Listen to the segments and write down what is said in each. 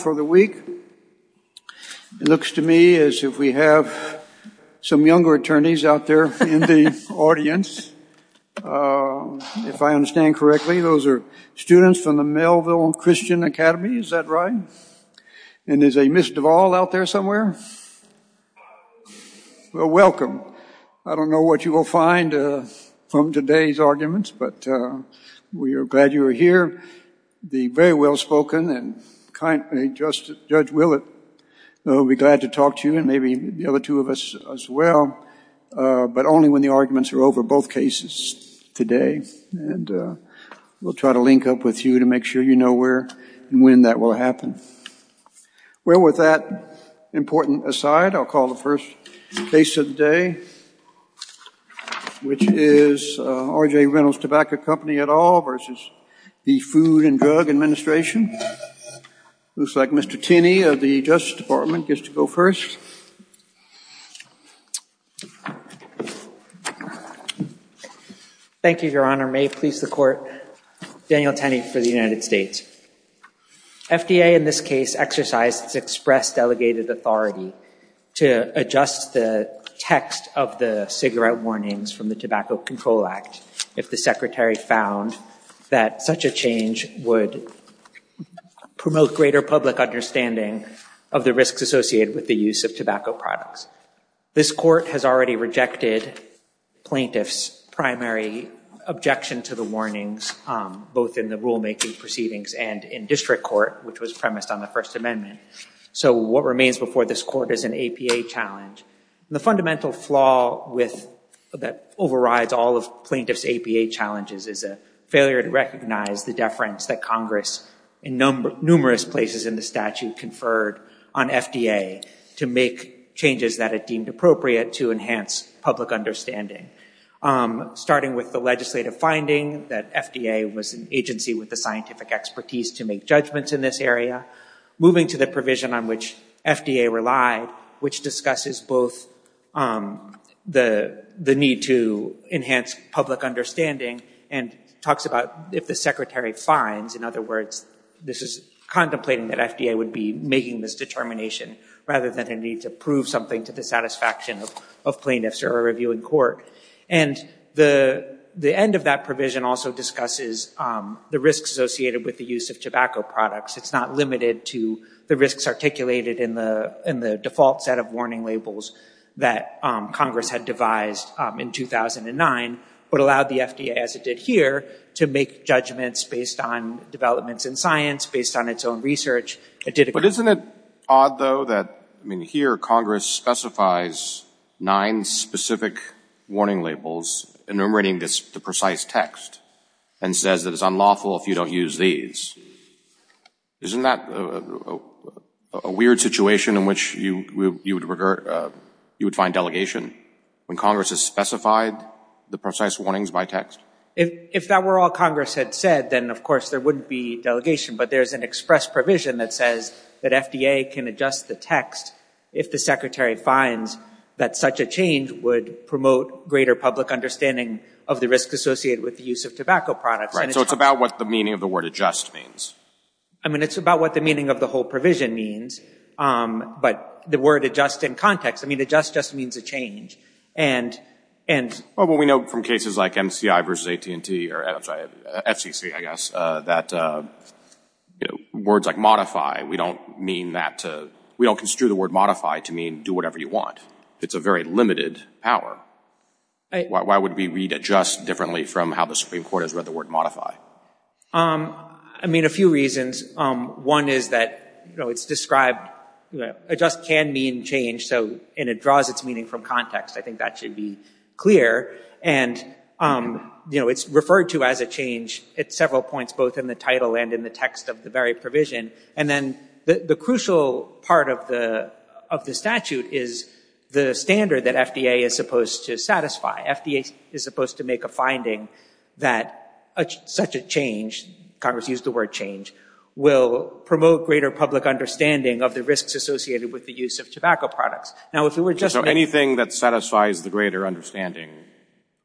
for the week. It looks to me as if we have some younger attorneys out there in the audience. If I understand correctly, those are students from the Melville Christian Academy, is that right? And is a Miss Duvall out there somewhere? Well, welcome. I don't know what you will find from today's arguments, but we are glad you are the very well-spoken and kind Judge Willett. We will be glad to talk to you and maybe the other two of us as well, but only when the arguments are over both cases today. And we will try to link up with you to make sure you know where and when that will happen. Well, with that important aside, I will call the first case of the day, which is R.J. Reynolds Tobacco Company et al. v. The Food and Drug Administration. Looks like Mr. Tenney of the Justice Department gets to go first. Thank you, Your Honor. May it please the Court, Daniel Tenney for the United States. FDA in this case exercised its express delegated authority to adjust the text of the cigarette warnings from the Tobacco Control Act if the Secretary found that such a change would promote greater public understanding of the risks associated with the use of tobacco products. This Court has already rejected plaintiff's primary objection to the warnings, both in the District Court, which was premised on the First Amendment. So what remains before this Court is an APA challenge. The fundamental flaw that overrides all of plaintiff's APA challenges is a failure to recognize the deference that Congress in numerous places in the statute conferred on FDA to make changes that it deemed appropriate to enhance public understanding. Starting with the legislative finding that FDA was an agency with the scientific expertise to make judgments in this area, moving to the provision on which FDA relied, which discusses both the need to enhance public understanding and talks about if the Secretary finds, in other words, this is contemplating that FDA would be making this determination rather than a need to prove something to the satisfaction of plaintiffs or a reviewing court. And the end of that provision also discusses the risks associated with the use of tobacco products. It's not limited to the risks articulated in the default set of warning labels that Congress had devised in 2009, but allowed the FDA, as it did here, to make judgments based on developments in science, based on its own research. But isn't it odd, though, that here Congress specifies nine specific warning labels enumerating the precise text and says that it's unlawful if you don't use these. Isn't that a weird situation in which you would find delegation when Congress has specified the precise warnings by text? If that were all Congress had said, then of course there wouldn't be delegation. But there's an express provision that says that FDA can adjust the text if the Secretary finds that such a change would promote greater public understanding of the risks associated with the use of tobacco products. Right. So it's about what the meaning of the word adjust means. I mean, it's about what the meaning of the whole provision means. But the word adjust in context, I mean, adjust just means a change. And, and we know from cases like MCI versus AT&T, or FCC, I guess, that words like modify, we don't mean that, we don't construe the word modify to mean do whatever you want. It's a very limited power. Why would we read adjust differently from how the Supreme Court has read the word modify? I mean, a few reasons. One is that, you know, it's described, you know, adjust can mean change. So, and it draws its meaning from I think that should be clear. And, you know, it's referred to as a change at several points, both in the title and in the text of the very provision. And then the crucial part of the, of the statute is the standard that FDA is supposed to satisfy. FDA is supposed to make a finding that such a change, Congress used the word change, will promote greater public understanding of the risks associated with the use of tobacco products. Now, if it were just anything that satisfies the greater understanding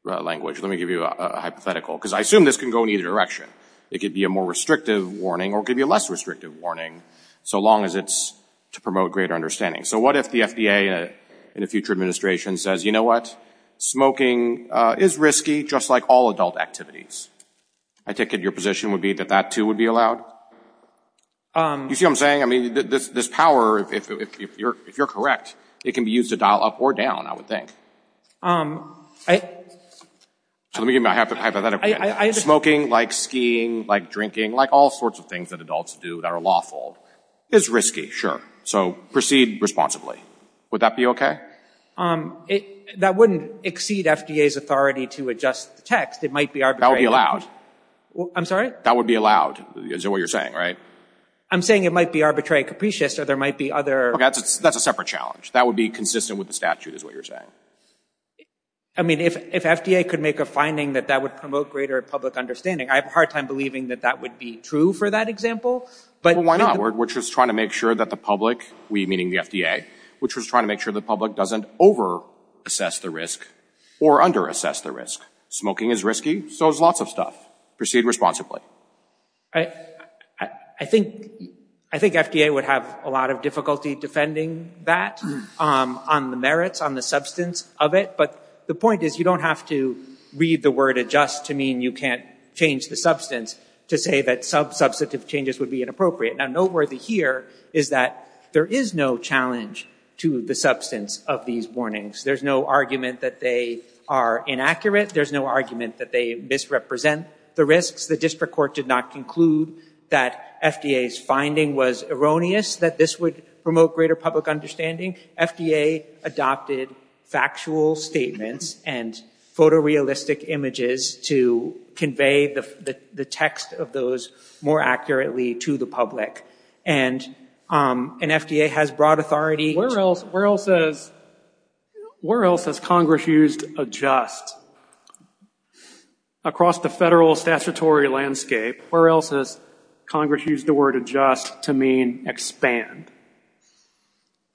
language, let me give you a hypothetical, because I assume this can go in either direction. It could be a more restrictive warning or it could be a less restrictive warning, so long as it's to promote greater understanding. So what if the FDA in a future administration says, you know what? Smoking is risky, just like all adult activities. I take it your position would be that that too would be allowed? You see what I'm saying? I mean, this power, if you're correct, it can be used to dial up or down, I would think. So let me give you my hypothetical. Smoking, like skiing, like drinking, like all sorts of things that adults do that are lawful is risky, sure. So proceed responsibly. Would that be okay? That wouldn't exceed FDA's authority to adjust the text. It might be arbitrary. That would be allowed. I'm sorry? That would be allowed. Is that what you're saying, right? I'm saying it might be arbitrary, capricious, or there might be other... That's a separate challenge. That would be consistent with the statute is what you're saying. I mean, if FDA could make a finding that that would promote greater public understanding, I have a hard time believing that that would be true for that example. But why not? We're just trying to make sure that the public, we meaning the FDA, which was trying to make sure the public doesn't over assess the risk or under assess the risk. Smoking is risky, so there's lots of stuff. Proceed responsibly. I think FDA would have a lot of difficulty defending that on the merits, on the substance of it. But the point is, you don't have to read the word adjust to mean you can't change the substance to say that some substantive changes would be inappropriate. Now, noteworthy here is that there is no challenge to the substance of these warnings. There's no argument that they are inaccurate. There's no argument that they misrepresent the risks, the district court did not conclude that FDA's finding was erroneous, that this would promote greater public understanding. FDA adopted factual statements and photorealistic images to convey the text of those more accurately to the public. And FDA has broad authority. Where else has Congress used adjust? Across the federal statutory landscape, where else has Congress used the word adjust to mean expand?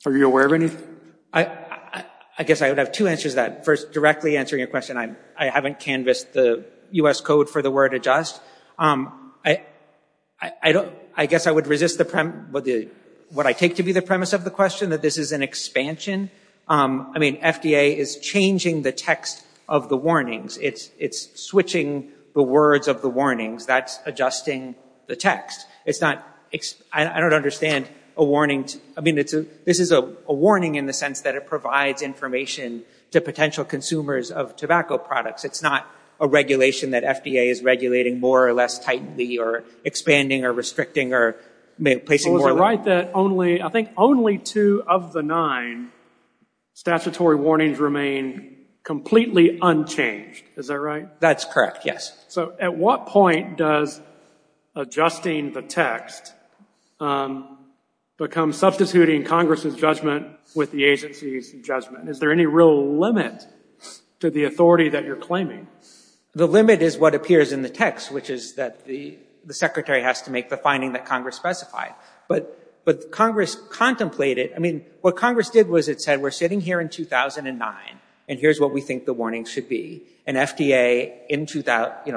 Are you aware of any? I guess I would have two answers to that. First, directly answering your question, I haven't canvassed the U.S. code for the word adjust. I guess I would resist what I take to be the premise of the question, that this is an expansion. I mean, FDA is changing the text of the warnings. It's switching the words of the warnings. That's adjusting the text. It's not, I don't understand a warning. I mean, this is a warning in the sense that it provides information to potential consumers of tobacco products. It's not a regulation that FDA is regulating more or less tightly or expanding or restricting or placing more. I think only two of the nine statutory warnings remain completely unchanged. Is that right? That's correct. Yes. So at what point does adjusting the text become substituting Congress's judgment with the agency's judgment? Is there any real limit to the authority that you're claiming? The limit is what appears in the text, which is that the secretary has to make the finding that Congress specified. But Congress contemplated, I mean, what Congress did was it said, we're sitting here in 2009, and here's what we think the warning should be. And FDA,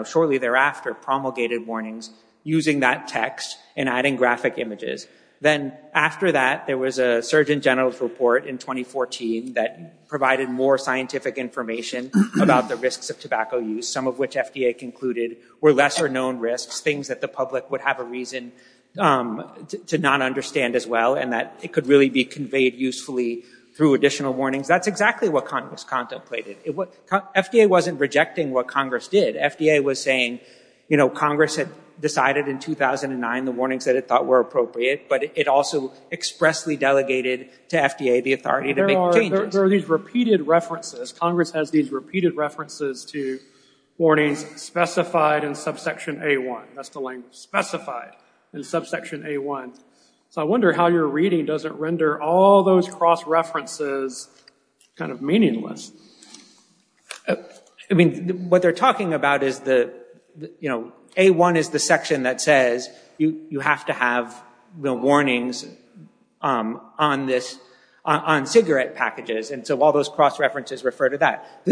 shortly thereafter, promulgated warnings using that text and adding graphic images. Then after that, there was a Surgeon General's report in 2014 that provided more scientific information about the risks of tobacco use, some of which FDA concluded were lesser known risks, things that the public would have a reason to not understand as well, and that it could really be conveyed usefully through additional warnings. That's exactly what Congress contemplated. FDA wasn't rejecting what Congress did. FDA was saying Congress had decided in 2009 the warnings that it thought were appropriate, but it also expressly delegated to FDA the authority to make changes. There are these repeated references. Congress has these repeated references to warnings specified in subsection A1. That's the language, specified in subsection A1. So I wonder how your reading doesn't render all those cross references kind of meaningless. I mean, what they're talking about is the, you know, A1 is the section that says you have to have the warnings on this, on cigarette packages. And so all those cross references refer to that.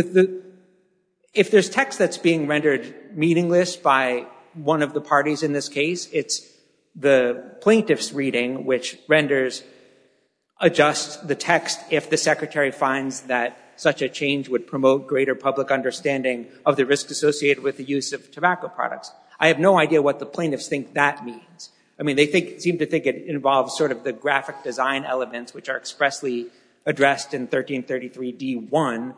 If there's text that's being rendered meaningless by one of the parties in this case, it's the plaintiff's reading, which renders, adjusts the text if the Secretary finds that such a change would promote greater public understanding of the risks associated with the use of tobacco products. I have no idea what the plaintiffs think that means. I mean, they think, seem to think it involves sort of the graphic design elements, which are expressly addressed in 1333 D1.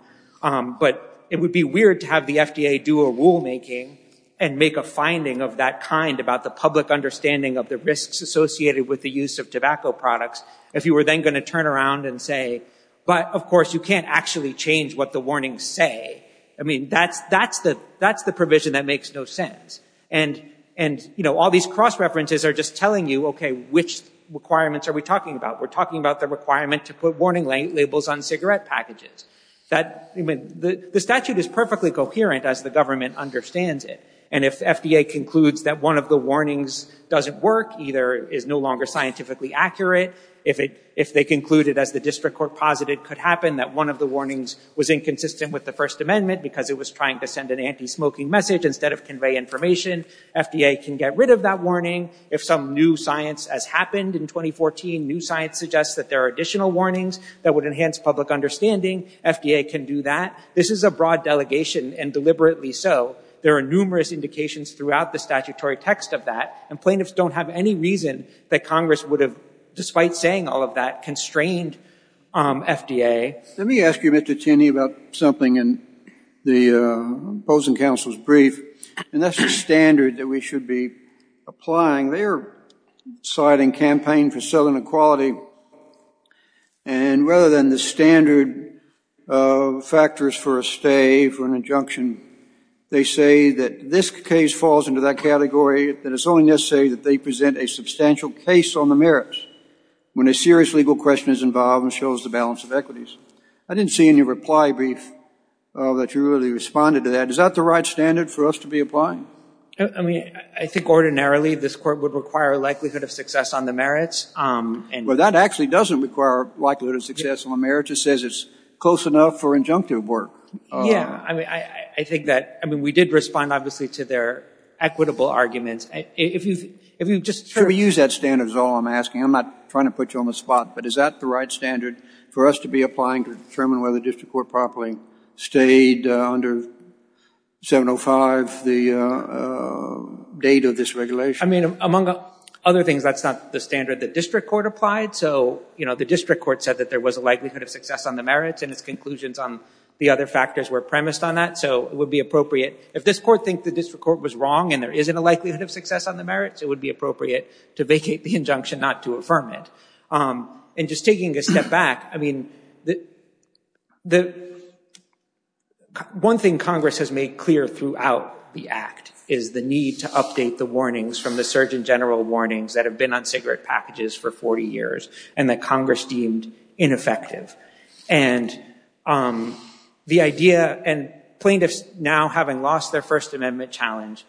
But it would be weird to have the FDA do a rulemaking and make a finding of that kind about the public understanding of the risks associated with the use of tobacco products, if you were then going to turn around and say, but of course, you can't actually change what the warnings say. I mean, that's the provision that makes no sense. And, you know, all these cross references are just telling you, okay, which requirements are we talking about? We're talking about the requirement to put warning labels on cigarette packages. That, I mean, the statute is perfectly coherent as the government understands it. And if FDA concludes that one of the warnings doesn't work, either is no longer scientifically accurate, if they concluded, as the district court posited could happen, that one of the warnings was inconsistent with the First Amendment because it was trying to send an anti-smoking message instead of convey information, FDA can get rid of that warning. If some new science has happened in 2014, new science suggests that there are additional warnings that would enhance public understanding, FDA can do that. This is a broad delegation and deliberately so. There are numerous indications throughout the statutory text of that and plaintiffs don't have any reason that Congress would have, despite saying all of that, constrained FDA. Let me ask you, Mr. Tinney, about something in the opposing counsel's brief. And that's the standard that we should be applying. They are citing campaign for civil inequality. And rather than the standard factors for a stay, for an injunction, they say that this case falls into that category, that it's only necessary that they present a substantial case on the merits when a serious legal question is involved and shows the balance of equities. I didn't see in your reply brief that you responded to that. Is that the right standard for us to be applying? I mean, I think ordinarily this Court would require a likelihood of success on the merits. That actually doesn't require a likelihood of success on the merits. It says it's close enough for injunctive work. Yeah, I mean, I think that, I mean, we did respond, obviously, to their equitable arguments. If you've just heard— Should we use that standard is all I'm asking. I'm not trying to put you on the spot. But is that the right standard for us to be applying to determine whether the district court properly stayed under 705, the date of this regulation? I mean, among other things, that's not the standard the district court applied. So, you know, the district court said that there was a likelihood of success on the merits, and its conclusions on the other factors were premised on that. So it would be appropriate. If this Court thinks the district court was wrong and there isn't a likelihood of success on the merits, it would be appropriate to vacate the injunction, not to affirm it. And just taking a step back, I mean, the one thing Congress has made clear throughout the Act is the need to update the warnings from the Surgeon General warnings that have been on cigarette packages for 40 years, and that Congress deemed ineffective. And the idea, and plaintiffs now having lost their First Amendment challenge,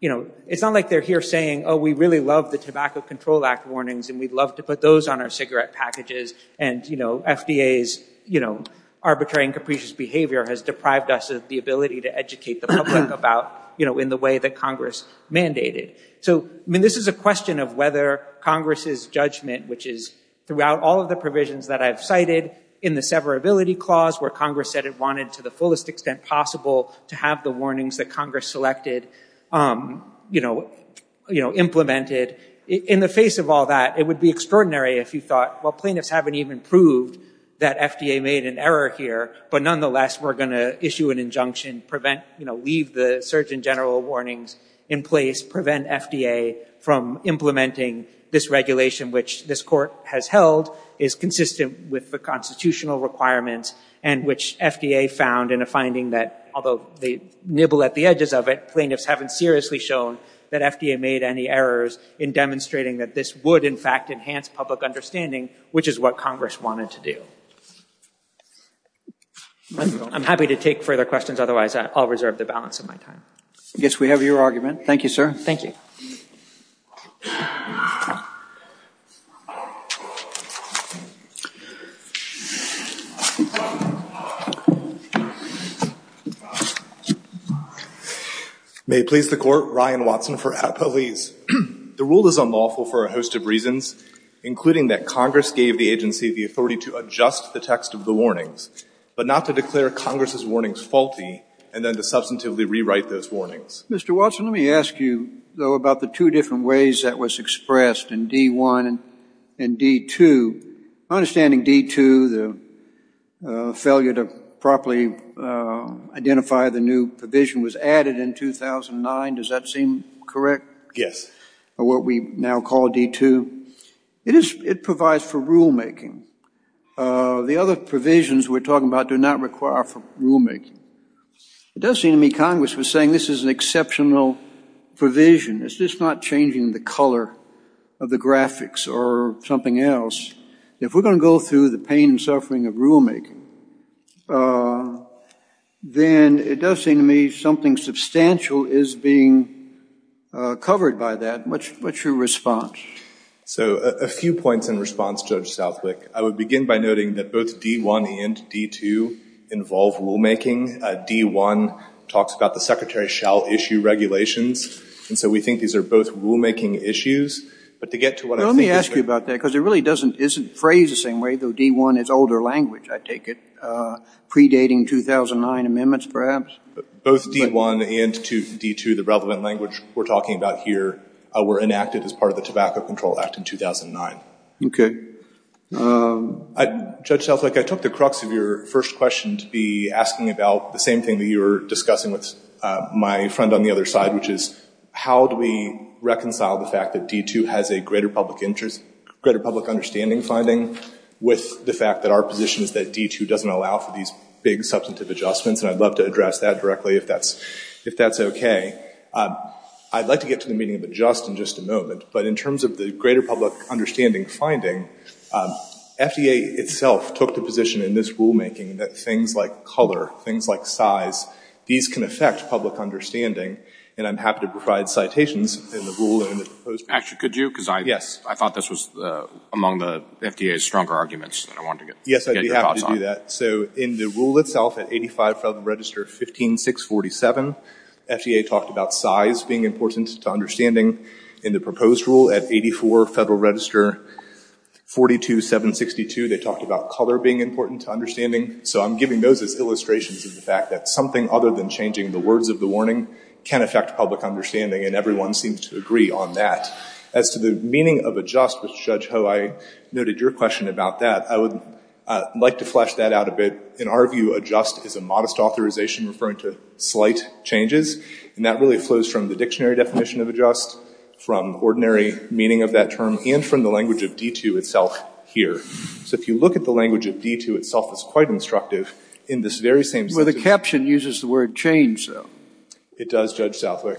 you know, it's not like they're here saying, oh, we really love the Tobacco Control Act warnings, and we'd love to put those on our cigarette packages. And, you know, FDA's, you know, arbitrary and capricious behavior has deprived us of the ability to educate the public about, you know, in the way that Congress mandated. So, I mean, this is a question of whether Congress's judgment, which is throughout all of the provisions that I've cited, in the severability clause, where Congress said it wanted to the fullest extent possible to have the warnings that Congress selected, you know, implemented. In the face of all that, it would be extraordinary if you thought, well, plaintiffs haven't even proved that FDA made an error here, but nonetheless, we're going to issue an injunction, prevent, you know, leave the Surgeon General warnings in place, prevent FDA from implementing this regulation, which this Court has held is consistent with the requirements, and which FDA found in a finding that, although they nibble at the edges of it, plaintiffs haven't seriously shown that FDA made any errors in demonstrating that this would, in fact, enhance public understanding, which is what Congress wanted to do. I'm happy to take further questions. Otherwise, I'll reserve the balance of my time. I guess we have your argument. Thank you, sir. Thank you. May it please the Court, Ryan Watson for Appelese. The rule is unlawful for a host of reasons, including that Congress gave the agency the authority to adjust the text of the warnings, but not to declare Congress's warnings faulty, and then to substantively rewrite those warnings. Mr. Watson, let me ask you, though, about the two different ways that was expressed in D-1 and D-2. My understanding, D-2, the failure to properly identify the new provision was added in 2009. Does that seem correct? Yes. What we now call D-2. It provides for rulemaking. The other provisions we're talking about do not require rulemaking. It does seem to me Congress was saying this is an exceptional provision. It's just not changing the color of the graphics or something else. If we're going to go through the pain and suffering of rulemaking, then it does seem to me something substantial is being covered by that. What's your response? So a few points in response, Judge Southwick. I would begin by noting that both D-1 and D-2 involve rulemaking. D-1 talks about the secretary shall issue regulations. And so we think these are both rulemaking issues. But to get to what I think is... Let me ask you about that, because it really isn't phrased the same way, though D-1 is older language, I take it, predating 2009 amendments, perhaps? Both D-1 and D-2, the relevant language we're talking about here, were enacted as part of the Tobacco Control Act in 2009. Okay. Judge Southwick, I took the crux of your first question to be asking about the same thing that you were discussing with my friend on the other side, which is how do we reconcile the fact that D-2 has a greater public understanding finding with the fact that our position is that D-2 doesn't allow for these big substantive adjustments? And I'd love to address that directly if that's okay. I'd like to get to the meaning of adjust in just a moment, but in terms of the greater public understanding finding, FDA itself took the position in this rulemaking that things like color, things like size, these can affect public understanding, and I'm happy to provide citations in the rule and in the proposed... Actually, could you? Because I thought this was among the FDA's stronger arguments that I wanted to get your thoughts on. Yes, I'd be happy to do that. So in the rule itself at 85 Federal Register 15-647, FDA talked about size being important to understanding. In the proposed rule at 84 Federal Register 42-762, they talked about color being important to understanding. So I'm giving those as illustrations of the fact that something other than changing the words of the warning can affect public understanding, and everyone seems to agree on that. As to the meaning of adjust, Judge Ho, I noted your question about that. I would like to flesh that out a bit. In our view, adjust is a modest authorization referring to slight changes, and that really flows from the dictionary definition of adjust, from ordinary meaning of that term, and from the language of D2 itself here. So if you look at the language of D2 itself, it's quite instructive in this very same... Well, the caption uses the word change, though. It does, Judge Southwick,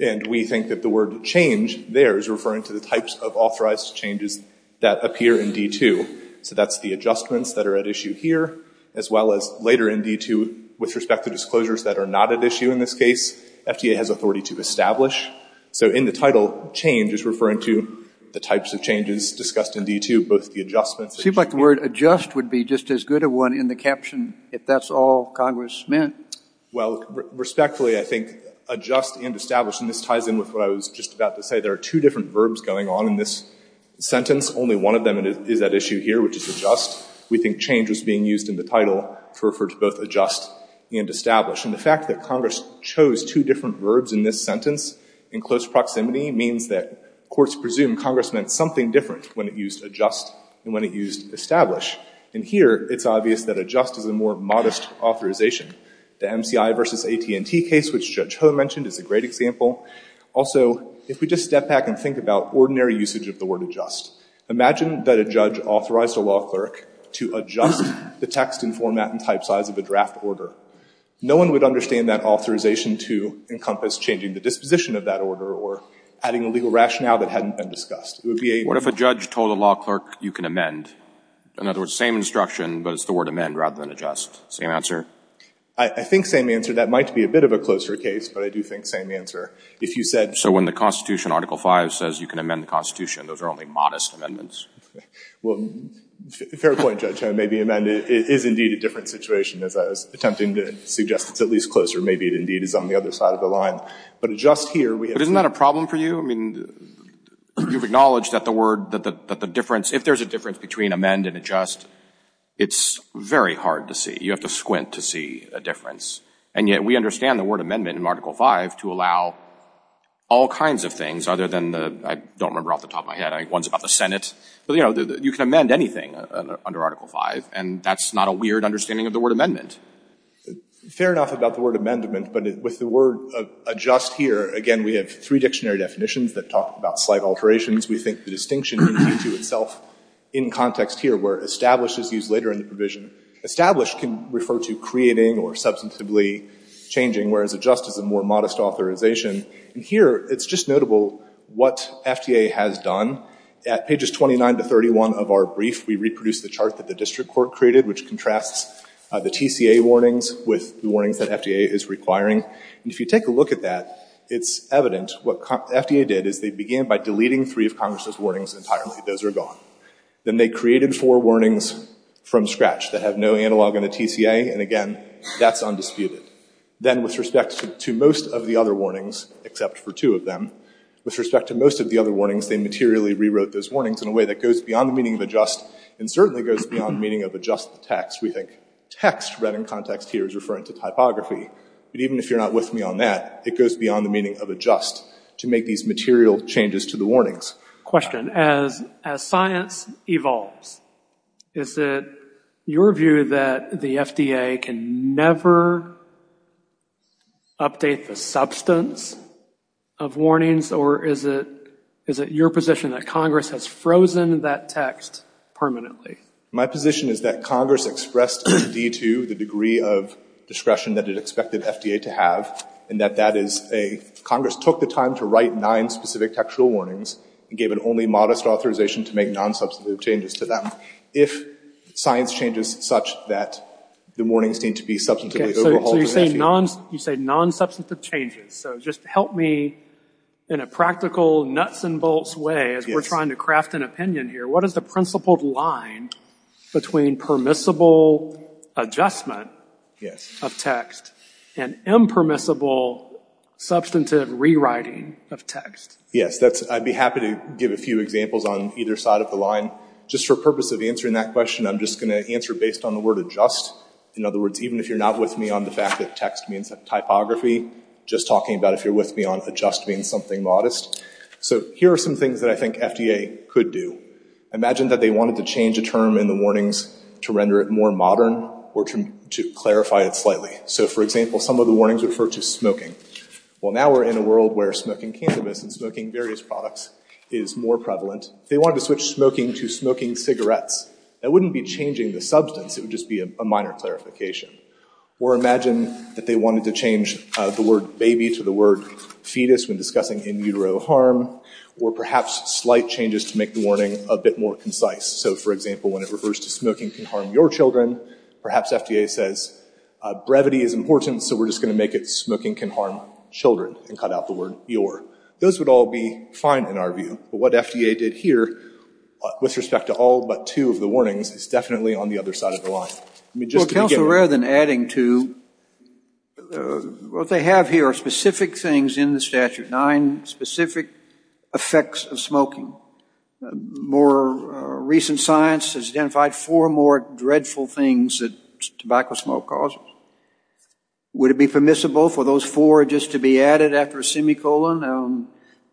and we think that the word change there is referring to the types of authorized changes that appear in D2. So that's the adjustments that are at issue here, as well as later in D2 with respect to disclosures that are not at issue in this case. FDA has authority to establish. So in the title, change is referring to the types of changes discussed in D2, both the adjustments... Seems like the word adjust would be just as good a one in the caption if that's all Congress meant. Well, respectfully, I think adjust and establish, and this ties in with what I was just about to say. There are two different verbs going on in this sentence. Only one of them is at issue here, which is adjust. We think change is being used in the title to refer to both adjust and establish. And the fact that Congress chose two different verbs in this sentence in close proximity means that courts presume Congress meant something different when it used adjust and when it used establish. And here, it's obvious that adjust is a more modest authorization. The MCI versus AT&T case, which Judge Ho mentioned, is a great example. Also, if we just step back and think about ordinary usage of the word adjust, imagine that a judge authorized a law clerk to adjust the text and format and type size of a draft order. No one would understand that authorization to encompass changing the disposition of that order or adding a legal rationale that hadn't been discussed. It would be a... What if a judge told a law clerk, you can amend? In other words, same instruction, but it's the word amend rather than adjust. Same answer? I think same answer. That might be a bit of a closer case, but I do think same answer. If you said... So when the Constitution, Article 5, says you can amend the Constitution, those are only modest amendments. Well, fair point, Judge Ho. Maybe amend is indeed a different situation, as I was attempting to suggest it's at least closer. Maybe it indeed is on the other side of the line. But adjust here... But isn't that a problem for you? I mean, you've acknowledged that the word, that the difference, if there's a difference between amend and adjust, it's very hard to see. You have to squint to see a difference. And yet, we understand the word amendment in Article 5 to allow all kinds of things other than the... I don't remember off the top of my head. I think one's about the Senate. But, you know, you can amend anything under Article 5, and that's not a weird understanding of the word amendment. Fair enough about the word amendment. But with the word adjust here, again, we have three dictionary definitions that talk about slight alterations. We think the distinction in Q2 itself in context here where establish is used later in the provision. Establish can refer to creating or substantively changing, whereas adjust is a more modest authorization. And here, it's just notable what FDA has done. At pages 29 to 31 of our brief, we reproduced the chart that the district court created, which contrasts the TCA warnings with the warnings that FDA is requiring. And if you take a look at that, it's evident what FDA did is they began by deleting three of Congress's warnings entirely. Those are gone. Then they created four warnings from scratch that have no analog in the TCA. And again, that's undisputed. Then with respect to most of the other warnings, except for two of them, with respect to most of the other warnings, they materially rewrote those warnings in a way that goes beyond the meaning of adjust and certainly goes beyond the meaning of adjust the text. We think text read in context here is referring to typography. But even if you're not with me on that, it goes beyond the meaning of adjust to make these material changes to the warnings. Question. As science evolves, is it your view that the FDA can never update the substance of warnings? Or is it your position that Congress has frozen that text permanently? My position is that Congress expressed in D2 the degree of discretion that it expected FDA to have and that that is a Congress took the time to write nine specific textual warnings and gave an only modest authorization to make non-substantive changes to them. If science changes such that the warnings need to be substantively overhauled. So you say non-substantive changes. So just help me in a practical nuts and bolts way, as we're trying to craft an opinion here, what is the principled line between permissible adjustment of text and impermissible substantive rewriting of text? Yes. I'd be happy to give a few examples on either side of the line. Just for purpose of answering that question, I'm just going to answer based on the word adjust. In other words, even if you're not with me on the fact that text means typography, just talking about if you're with me on adjust being something modest. So here are some things that I think FDA could do. Imagine that they wanted to change a term in the warnings to render it more modern or to clarify it slightly. So for example, some of the warnings refer to smoking. Well, now we're in a world where smoking cannabis and smoking various products is more prevalent. They wanted to switch smoking to smoking cigarettes. That wouldn't be changing the substance. It would just be a minor clarification. Or imagine that they wanted to change the word baby to the word fetus when discussing in utero harm or perhaps slight changes to make the warning a bit more concise. So for example, when it refers to smoking can harm your children, perhaps FDA says brevity is important, so we're just going to make it smoking can harm children and cut out the word your. Those would all be fine in our view. But what FDA did here with respect to all but two of the warnings is definitely on the other side of the line. Well, counsel, rather than adding to what they have here are specific things in the statute, nine specific effects of smoking. More recent science has identified four more dreadful things that tobacco smoke causes. Would it be permissible for those four just to be added after a semicolon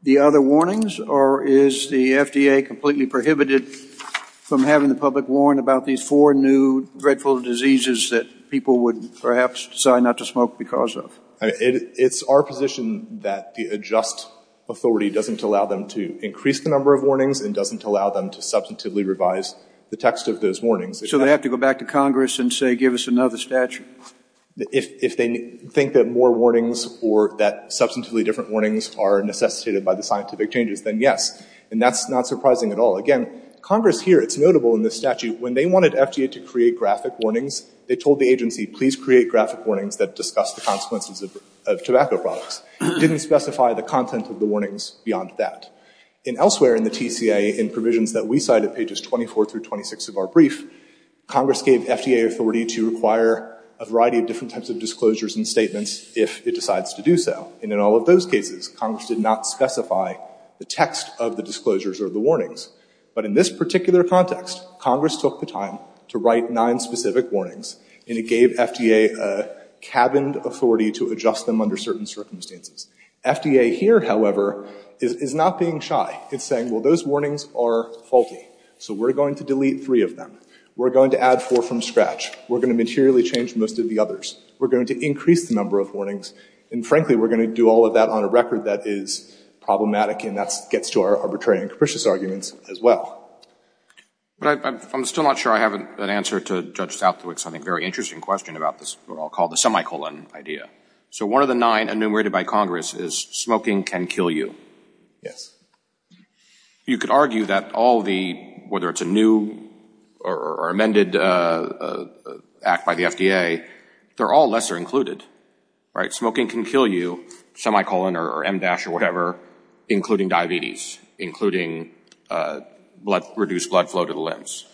the other warnings? Or is the FDA completely prohibited from having the public warn about these four new dreadful diseases that people would perhaps decide not to smoke because of? It's our position that the adjust authority doesn't allow them to increase the number of warnings and doesn't allow them to substantively revise the text of those warnings. So they have to go back to Congress and say give us another statute? If they think that more warnings or that substantively different warnings are necessitated by the scientific changes, then yes. And that's not surprising at all. Again, Congress here, it's notable in this statute, when they wanted FDA to create graphic warnings, they told the agency, please create graphic warnings that discuss the consequences of tobacco products. It didn't specify the content of the warnings beyond that. And elsewhere in the TCA, in provisions that we cite at pages 24 through 26 of our brief, Congress gave FDA authority to require a variety of different types of disclosures and statements if it decides to do so. And in all of those cases, Congress did not specify the text of the disclosures or the warnings. But in this context, Congress took the time to write nine specific warnings and it gave FDA a cabined authority to adjust them under certain circumstances. FDA here, however, is not being shy. It's saying, well, those warnings are faulty. So we're going to delete three of them. We're going to add four from scratch. We're going to materially change most of the others. We're going to increase the number of warnings. And frankly, we're going to do all of that on a record that is problematic. And that gets to our arbitrary and capricious arguments as well. But I'm still not sure I have an answer to Judge Southwick's, I think, very interesting question about this, what I'll call the semicolon idea. So one of the nine enumerated by Congress is smoking can kill you. Yes. You could argue that all the, whether it's a new or amended act by the FDA, they're all lesser included. Smoking can kill you, semicolon or em dash or whatever, including diabetes, including reduced blood flow to the limbs.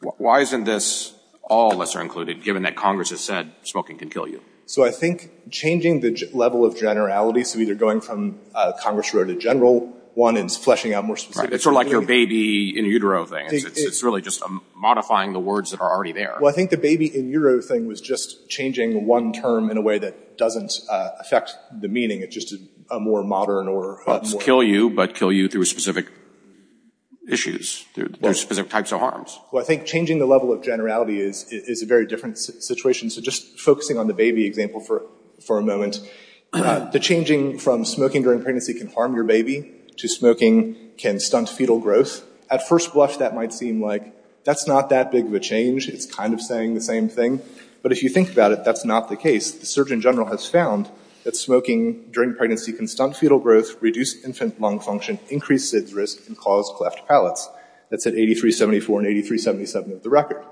Why isn't this all lesser included, given that Congress has said smoking can kill you? So I think changing the level of generality, so either going from Congress wrote a general one and fleshing out more specific... It's sort of like your baby in utero thing. It's really just modifying the words that are already there. I think the baby in utero thing was just changing one term in a way that doesn't affect the meaning. It's just a more modern or... Kill you, but kill you through specific issues. There's specific types of harms. Well, I think changing the level of generality is a very different situation. So just focusing on the baby example for a moment, the changing from smoking during pregnancy can harm your baby to smoking can stunt fetal growth. At first blush, that might seem like that's not that big of a change. It's kind of saying the same thing. But if you think about it, that's not the case. The Surgeon General has found that smoking during pregnancy can stunt fetal growth, reduce infant lung function, increase SIDS risk and cause cleft palates. That's at 8374 and 8377 of the record.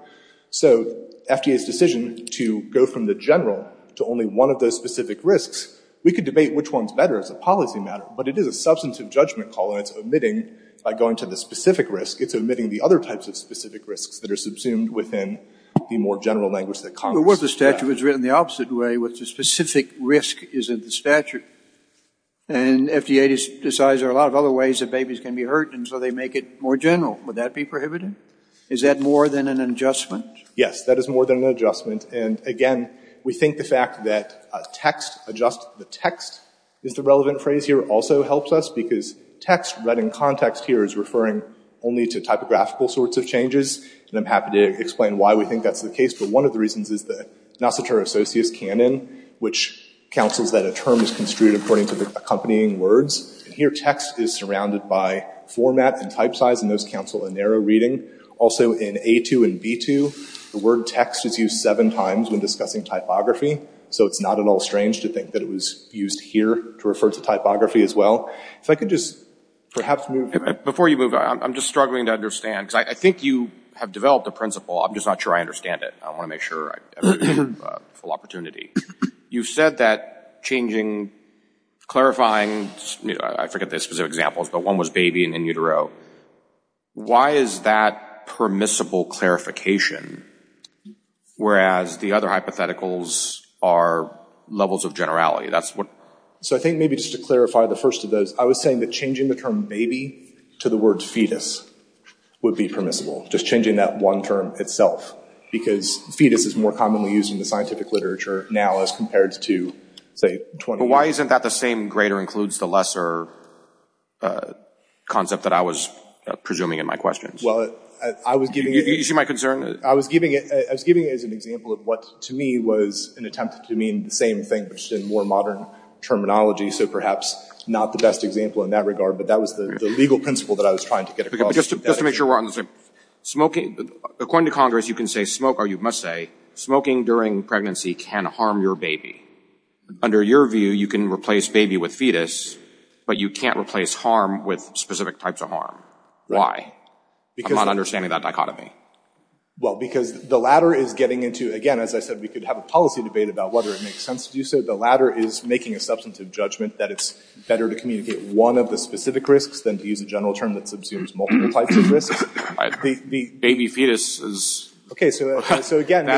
So FDA's decision to go from the general to only one of those specific risks, we could debate which one's better as a policy matter, but it is a substantive judgment call and it's omitting by going to the specific risk, it's omitting the other types of specific risks that are subsumed within the more general language that Congress... But what if the statute was written the opposite way with the specific risk is in the statute? And FDA decides there are a lot of other ways that babies can be hurt and so they make it more general. Would that be prohibited? Is that more than an adjustment? Yes, that is more than an adjustment. And again, we think the fact that text, adjust the text, is the relevant phrase here also helps us because text read in context here is referring only to typographical sorts of changes. And I'm happy to explain why we think that's the case, but one of the reasons is the Nocitor Associus Canon, which counsels that a term is construed according to the accompanying words. And here text is surrounded by format and type size and those counsel a narrow reading. Also in A2 and B2, the word text is used seven times when discussing typography. So it's not at all strange to think that it was used here to refer to typography as well. If I could just perhaps move... Before you move on, I'm just struggling to understand because I think you have developed a principle. I'm just not sure I understand it. I want to make sure I have a full opportunity. You've said that changing, clarifying... I forget the specific examples, but one was the other hypotheticals are levels of generality. That's what... So I think maybe just to clarify the first of those, I was saying that changing the term baby to the word fetus would be permissible, just changing that one term itself, because fetus is more commonly used in the scientific literature now as compared to, say... Why isn't that the same greater includes the lesser concept that I was presuming in my questions? Well, I was giving... You see my concern? I was giving it as an example of what to me was an attempt to mean the same thing, but just in more modern terminology. So perhaps not the best example in that regard, but that was the legal principle that I was trying to get across. Just to make sure we're on the same... According to Congress, you can say smoke, or you must say, smoking during pregnancy can harm your baby. Under your view, you can replace baby with fetus, but you can't replace harm with specific types of harm. Why? I'm not understanding that dichotomy. Because the latter is getting into... Again, as I said, we could have a policy debate about whether it makes sense to do so. The latter is making a substantive judgment that it's better to communicate one of the specific risks than to use a general term that subsumes multiple types of risks. Baby fetus is... We can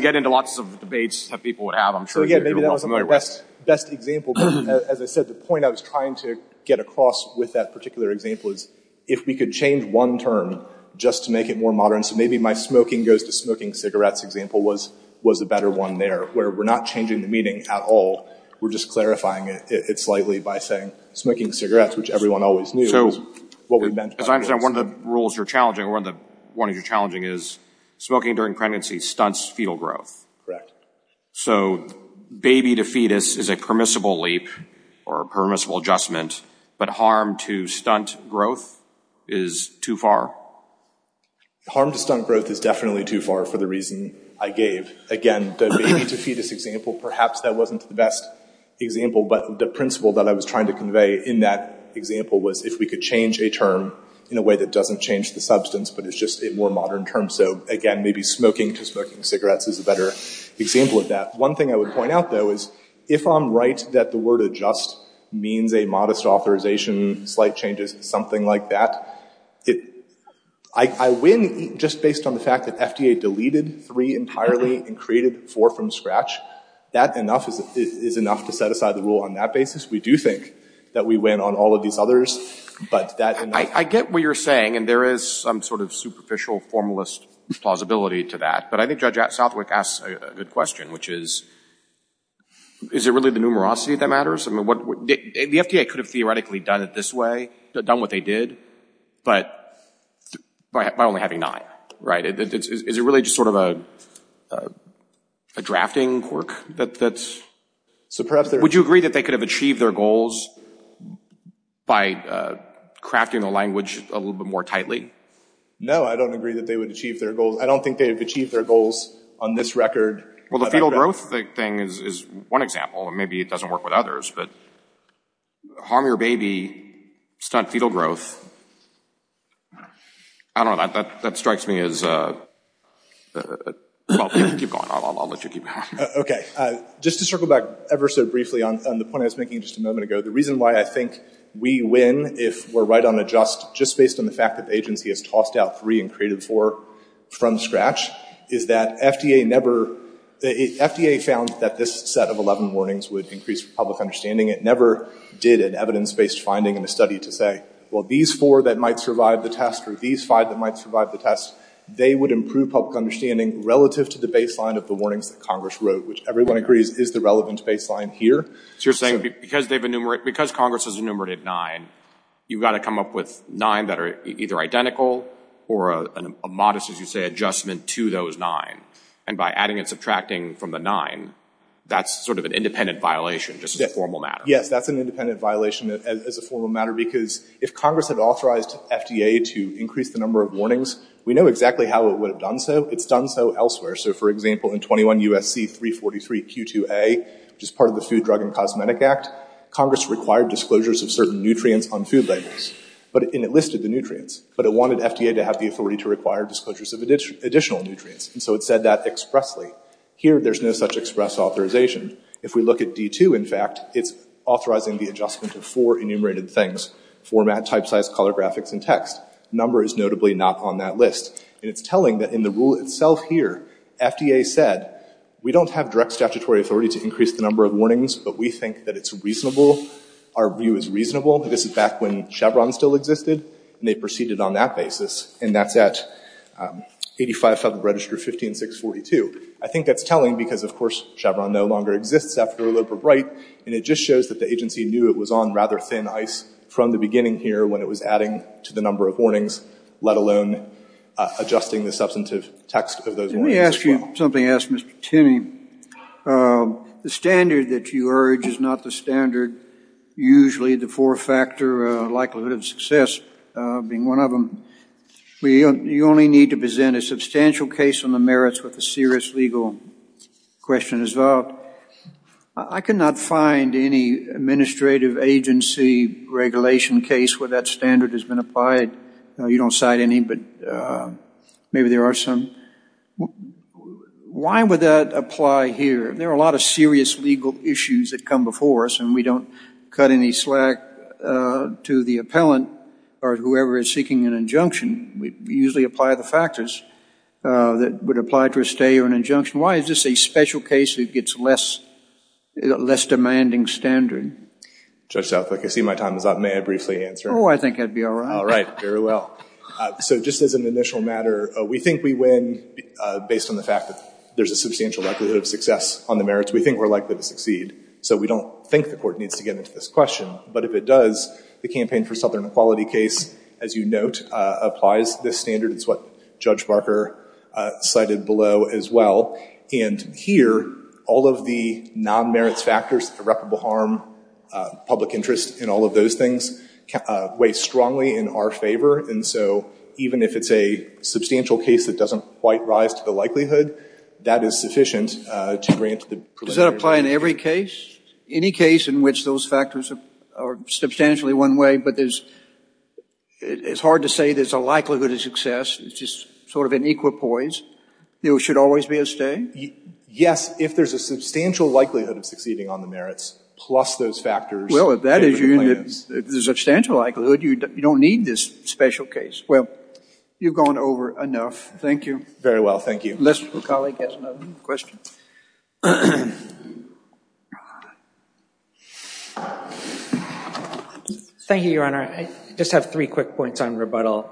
get into lots of debates that people would have. I'm sure you're all familiar with. Again, maybe that was the best example, but as I said, the point I was trying to get across with that particular example is if we could change one term just to make it more modern. Maybe my smoking goes to smoking cigarettes example was a better one there, where we're not changing the meaning at all. We're just clarifying it slightly by saying smoking cigarettes, which everyone always knew what we meant. As I understand, one of the rules you're challenging is smoking during pregnancy stunts fetal growth. Correct. So baby to fetus is a permissible leap or permissible adjustment, but harm to stunt growth is too far? Harm to stunt growth is definitely too far for the reason I gave. Again, the baby to fetus example, perhaps that wasn't the best example, but the principle that I was trying to convey in that example was if we could change a term in a way that doesn't change the substance, but it's just a more modern term. So again, maybe smoking to smoking cigarettes is a better example of that. One thing I would point out though is if I'm right that the word adjust means a modest authorization, slight changes, something like that. I win just based on the fact that FDA deleted three entirely and created four from scratch. That enough is enough to set aside the rule on that basis. We do think that we win on all of these others, but that enough. I get what you're saying, and there is some sort of superficial formalist plausibility to that, but I think Judge Southwick asks a good question, which is, is it really the numerosity that matters? The FDA could have theoretically done it this way, done what they did, but by only having nine. Is it really just sort of a drafting quirk? Would you agree that they could have achieved their goals by crafting the language a little bit more tightly? No, I don't agree that they would achieve their goals. I don't think they have achieved their goals on this record. Well, the fetal growth thing is one example. Maybe it doesn't work with others, but harm your baby, stunt fetal growth. I don't know. That strikes me as—well, keep going. I'll let you keep going. Okay. Just to circle back ever so briefly on the point I was making just a moment ago, the reason why I think we win if we're right on a just, just based on the fact that the agency has tossed out three and created four from scratch, is that FDA found that this set of 11 warnings would increase public understanding. It never did an evidence-based finding in a study to say, well, these four that might survive the test or these five that might survive the test, they would improve public understanding relative to the baseline of the warnings that Congress wrote, which everyone agrees is the relevant baseline here. So you're saying because Congress has enumerated nine, you've got to come up with nine that are either identical or a modest, as you say, adjustment to those nine. And by adding and subtracting from the nine, that's sort of an independent violation just as a formal matter. Yes, that's an independent violation as a formal matter because if Congress had authorized FDA to increase the number of warnings, we know exactly how it would have done so. It's done so elsewhere. So for example, in 21 U.S.C. 343 Q2A, which is part of the Food, Drug, and Cosmetic Act, Congress required disclosures of certain nutrients on food labels. But—and it listed the nutrients. But it wanted FDA to have the authority to require disclosures of additional nutrients. And so it said that expressly. Here, there's no such express authorization. If we look at D2, in fact, it's authorizing the adjustment of four enumerated things, format, type size, color graphics, and text. The number is notably not on that list. And it's telling that in the rule itself here, FDA said we don't have direct statutory authority to increase the number of warnings, but we think that it's reasonable. Our view is reasonable. This is back when Chevron still existed. And they proceeded on that basis. And that's at 85 Federal Register 15642. I think that's telling because, of course, Chevron no longer exists after Allopur Bright. And it just shows that the agency knew it was on rather thin ice from the beginning here when it was adding to the number of warnings, let alone adjusting the substantive text of those warnings as well. Let me ask you something else, Mr. Timmy. The standard that you urge is not the standard usually the four-factor likelihood of success being one of them. You only need to present a substantial case on the merits with a serious legal question as well. I cannot find any administrative agency regulation case where that standard has been applied. You don't cite any, but maybe there are some. Why would that apply here? There are a lot of serious legal issues that come before us. And we don't cut any slack to the appellant or whoever is seeking an injunction. We usually apply the factors that would apply to a stay or an injunction. Why is this a special case that gets less demanding standard? Judge Southwick, I see my time is up. May I briefly answer? Oh, I think I'd be all right. All right. Very well. So just as an initial matter, we think we win based on the fact that there's a substantial likelihood of success on the merits. We think we're likely to succeed. So we don't think the court needs to get into this question. But if it does, the Campaign for Southern Equality case, as you note, applies this standard. It's what Judge Barker cited below as well. And here, all of the non-merits factors, irreparable harm, public interest, and all of those things weigh strongly in our favor. And so even if it's a substantial case that doesn't quite rise to the likelihood, that is sufficient to grant the preliminary case. Does that apply in every case? Any case in which those factors are substantially one way, but there's it's hard to say there's a likelihood of success. It's just sort of an equipoise. There should always be a stay? Yes, if there's a substantial likelihood of succeeding on the merits, plus those factors. Well, if that is the substantial likelihood, you don't need this special case. Well, you've gone over enough. Thank you. Very well. Thank you. Mr. McAuley has another question. Thank you, Your Honor. I just have three quick points on rebuttal.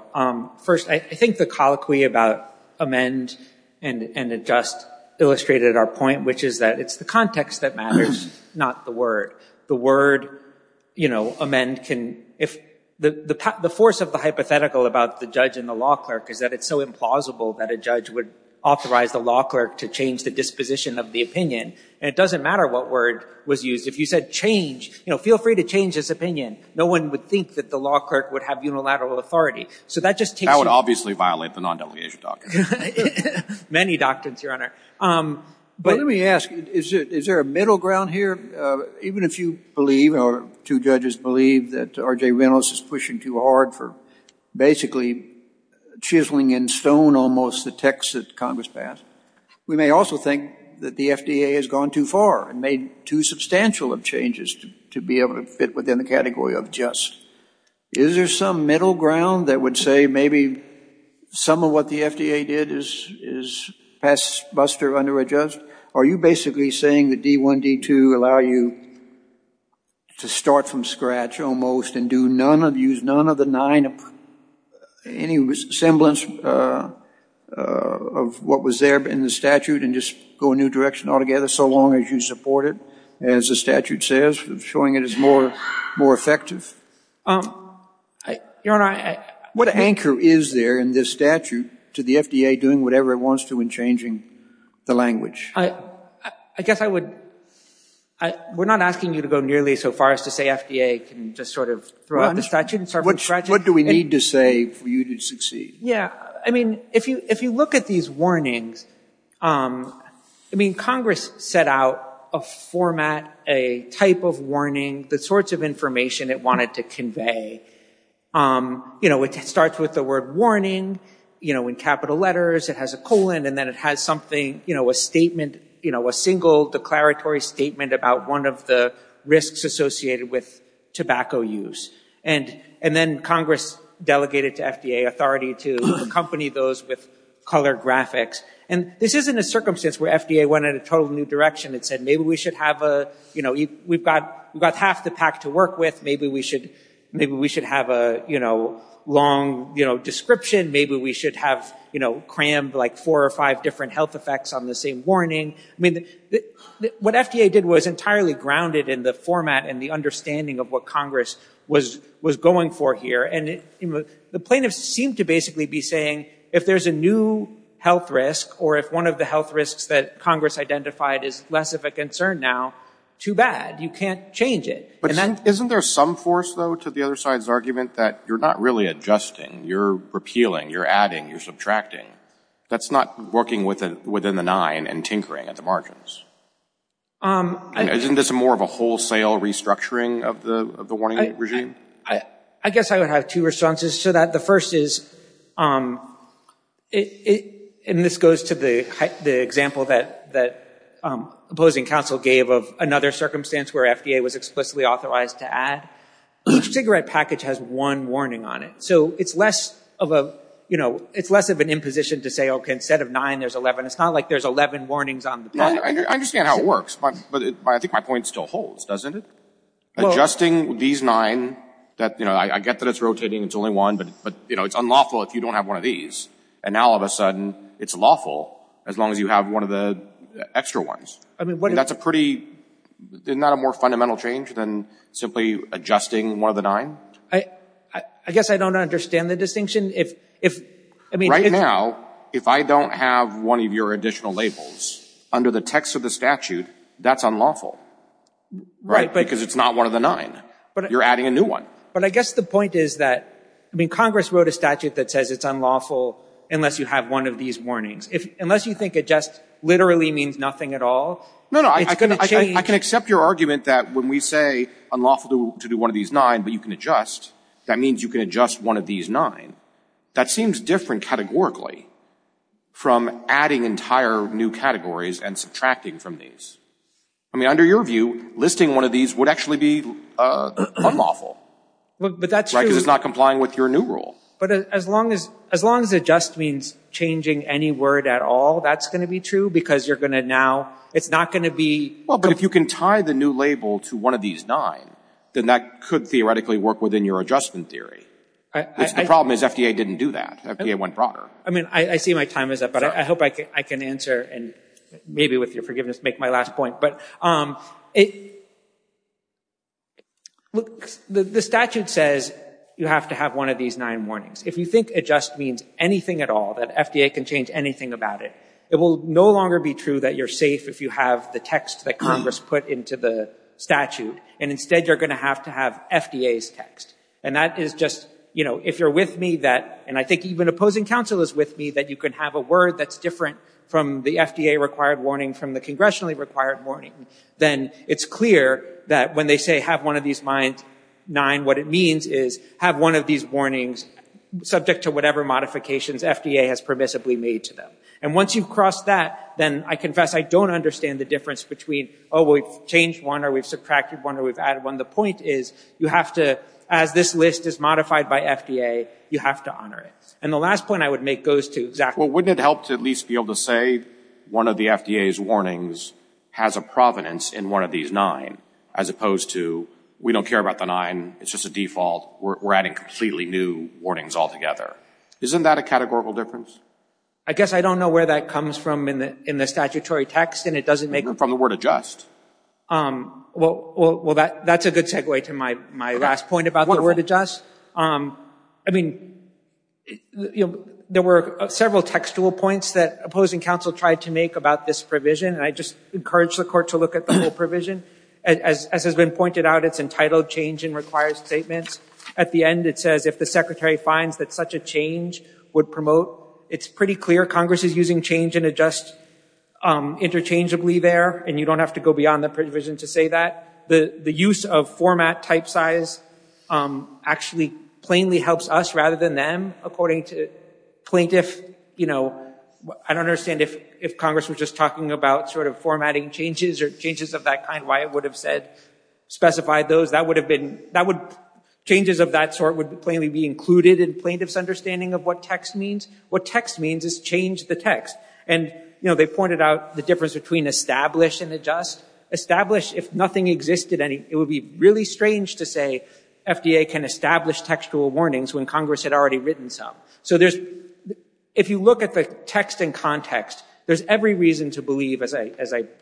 First, I think the colloquy about amend and adjust illustrated our point, which is that it's the context that matters, not the word. The word amend can if the force of the hypothetical about the judge and the law to change the disposition of the opinion. And it doesn't matter what word was used. If you said change, feel free to change his opinion. No one would think that the law clerk would have unilateral authority. So that just takes you. That would obviously violate the non-delegation doctrine. Many doctrines, Your Honor. But let me ask, is there a middle ground here? Even if you believe or two judges believe that R.J. Reynolds is pushing too hard for basically chiseling in stone almost the text that Congress passed, we may also think that the FDA has gone too far and made too substantial of changes to be able to fit within the category of just. Is there some middle ground that would say maybe some of what the FDA did is pass, buster, under adjust? Are you basically saying that D1, D2 allow you to start from scratch almost and use none of the semblance of what was there in the statute and just go a new direction altogether so long as you support it, as the statute says, showing it is more effective? Your Honor, I— What anchor is there in this statute to the FDA doing whatever it wants to in changing the language? I guess I would—we're not asking you to go nearly so far as to say FDA can just sort of throw out the statute and start from scratch. What do we need to say for you to succeed? Yeah. I mean, if you look at these warnings, I mean, Congress set out a format, a type of warning, the sorts of information it wanted to convey. You know, it starts with the word warning, you know, in capital letters. It has a colon and then it has something, you know, a statement, you know, a single declaratory statement about one of the risks associated with tobacco use. And then Congress delegated to FDA authority to accompany those with colored graphics. And this isn't a circumstance where FDA went in a total new direction and said, maybe we should have a, you know, we've got half the pack to work with. Maybe we should have a, you know, long, you know, description. Maybe we should have, you know, crammed, like, four or five different health effects on the same warning. I mean, what FDA did was entirely grounded in the format and the understanding of what Congress was going for here. And the plaintiffs seemed to basically be saying, if there's a new health risk, or if one of the health risks that Congress identified is less of a concern now, too bad. You can't change it. But isn't there some force, though, to the other side's argument that you're not really adjusting? You're repealing, you're adding, you're subtracting. That's not working within the nine and tinkering at the margins. And isn't this more of a wholesale restructuring of the warning regime? I guess I would have two responses to that. The first is, and this goes to the example that opposing counsel gave of another circumstance where FDA was explicitly authorized to add, each cigarette package has one warning on it. So it's less of a, you know, it's less of an imposition to say, okay, instead of nine, there's 11. It's not like there's 11 warnings on the product. I understand how it works. But I think my point still holds, doesn't it? Adjusting these nine that, you know, I get that it's rotating. It's only one. But, you know, it's unlawful if you don't have one of these. And now, all of a sudden, it's lawful as long as you have one of the extra ones. That's a pretty, isn't that a more fundamental change than simply adjusting one of the nine? I guess I don't understand the distinction. If, I mean... Now, if I don't have one of your additional labels under the text of the statute, that's unlawful, right? Because it's not one of the nine. You're adding a new one. But I guess the point is that, I mean, Congress wrote a statute that says it's unlawful unless you have one of these warnings. Unless you think adjust literally means nothing at all, it's going to change... I can accept your argument that when we say unlawful to do one of these nine, but you can adjust, that means you can adjust one of these nine. That seems different categorically from adding entire new categories and subtracting from these. I mean, under your view, listing one of these would actually be unlawful. But that's true. Because it's not complying with your new rule. But as long as adjust means changing any word at all, that's going to be true because you're going to now... It's not going to be... Well, but if you can tie the new label to one of these nine, then that could theoretically work within your adjustment theory. The problem is FDA didn't do that. FDA went broader. I mean, I see my time is up, but I hope I can answer. And maybe with your forgiveness, make my last point. But the statute says you have to have one of these nine warnings. If you think adjust means anything at all, that FDA can change anything about it, it will no longer be true that you're safe if you have the text that Congress put into the statute. And instead, you're going to have to have FDA's text. And that is just... If you're with me, and I think even opposing counsel is with me, that you can have a word that's different from the FDA-required warning from the congressionally-required warning, then it's clear that when they say have one of these nine, what it means is have one of these warnings subject to whatever modifications FDA has permissibly made to them. And once you've crossed that, then I confess I don't understand the difference between, oh, we've changed one, or we've subtracted one, or we've added one. The point is, as this list is modified by FDA, you have to honor it. And the last point I would make goes to exactly... Well, wouldn't it help to at least be able to say one of the FDA's warnings has a provenance in one of these nine, as opposed to we don't care about the nine, it's just a default, we're adding completely new warnings altogether. Isn't that a categorical difference? I guess I don't know where that comes from in the statutory text, and it doesn't make... From the word adjust. Um, well, that's a good segue to my last point about the word adjust. I mean, there were several textual points that opposing counsel tried to make about this provision, and I just encourage the court to look at the whole provision. As has been pointed out, it's entitled change and requires statements. At the end, it says if the secretary finds that such a change would promote, it's pretty clear Congress is using change and adjust interchangeably there, and you don't have to go beyond the provision to say that. The use of format type size actually plainly helps us rather than them. According to plaintiff, you know, I don't understand if Congress was just talking about sort of formatting changes or changes of that kind, why it would have said specified those. Changes of that sort would plainly be included in plaintiff's understanding of what text means. What text means is change the text. And, you know, they pointed out the difference between establish and adjust. Establish, if nothing existed, it would be really strange to say FDA can establish textual warnings when Congress had already written some. So there's, if you look at the text and context, there's every reason to believe, as I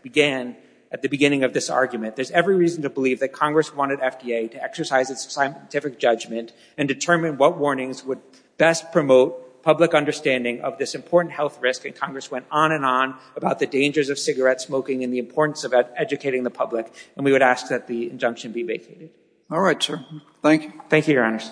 began at the beginning of this argument, there's every reason to believe that Congress wanted FDA to exercise its scientific judgment and determine what warnings would best promote public understanding of this important health risk and Congress went on and on about the dangers of cigarette smoking and the importance of educating the public. And we would ask that the injunction be vacated. All right, sir. Thank you. Thank you, Your Honors.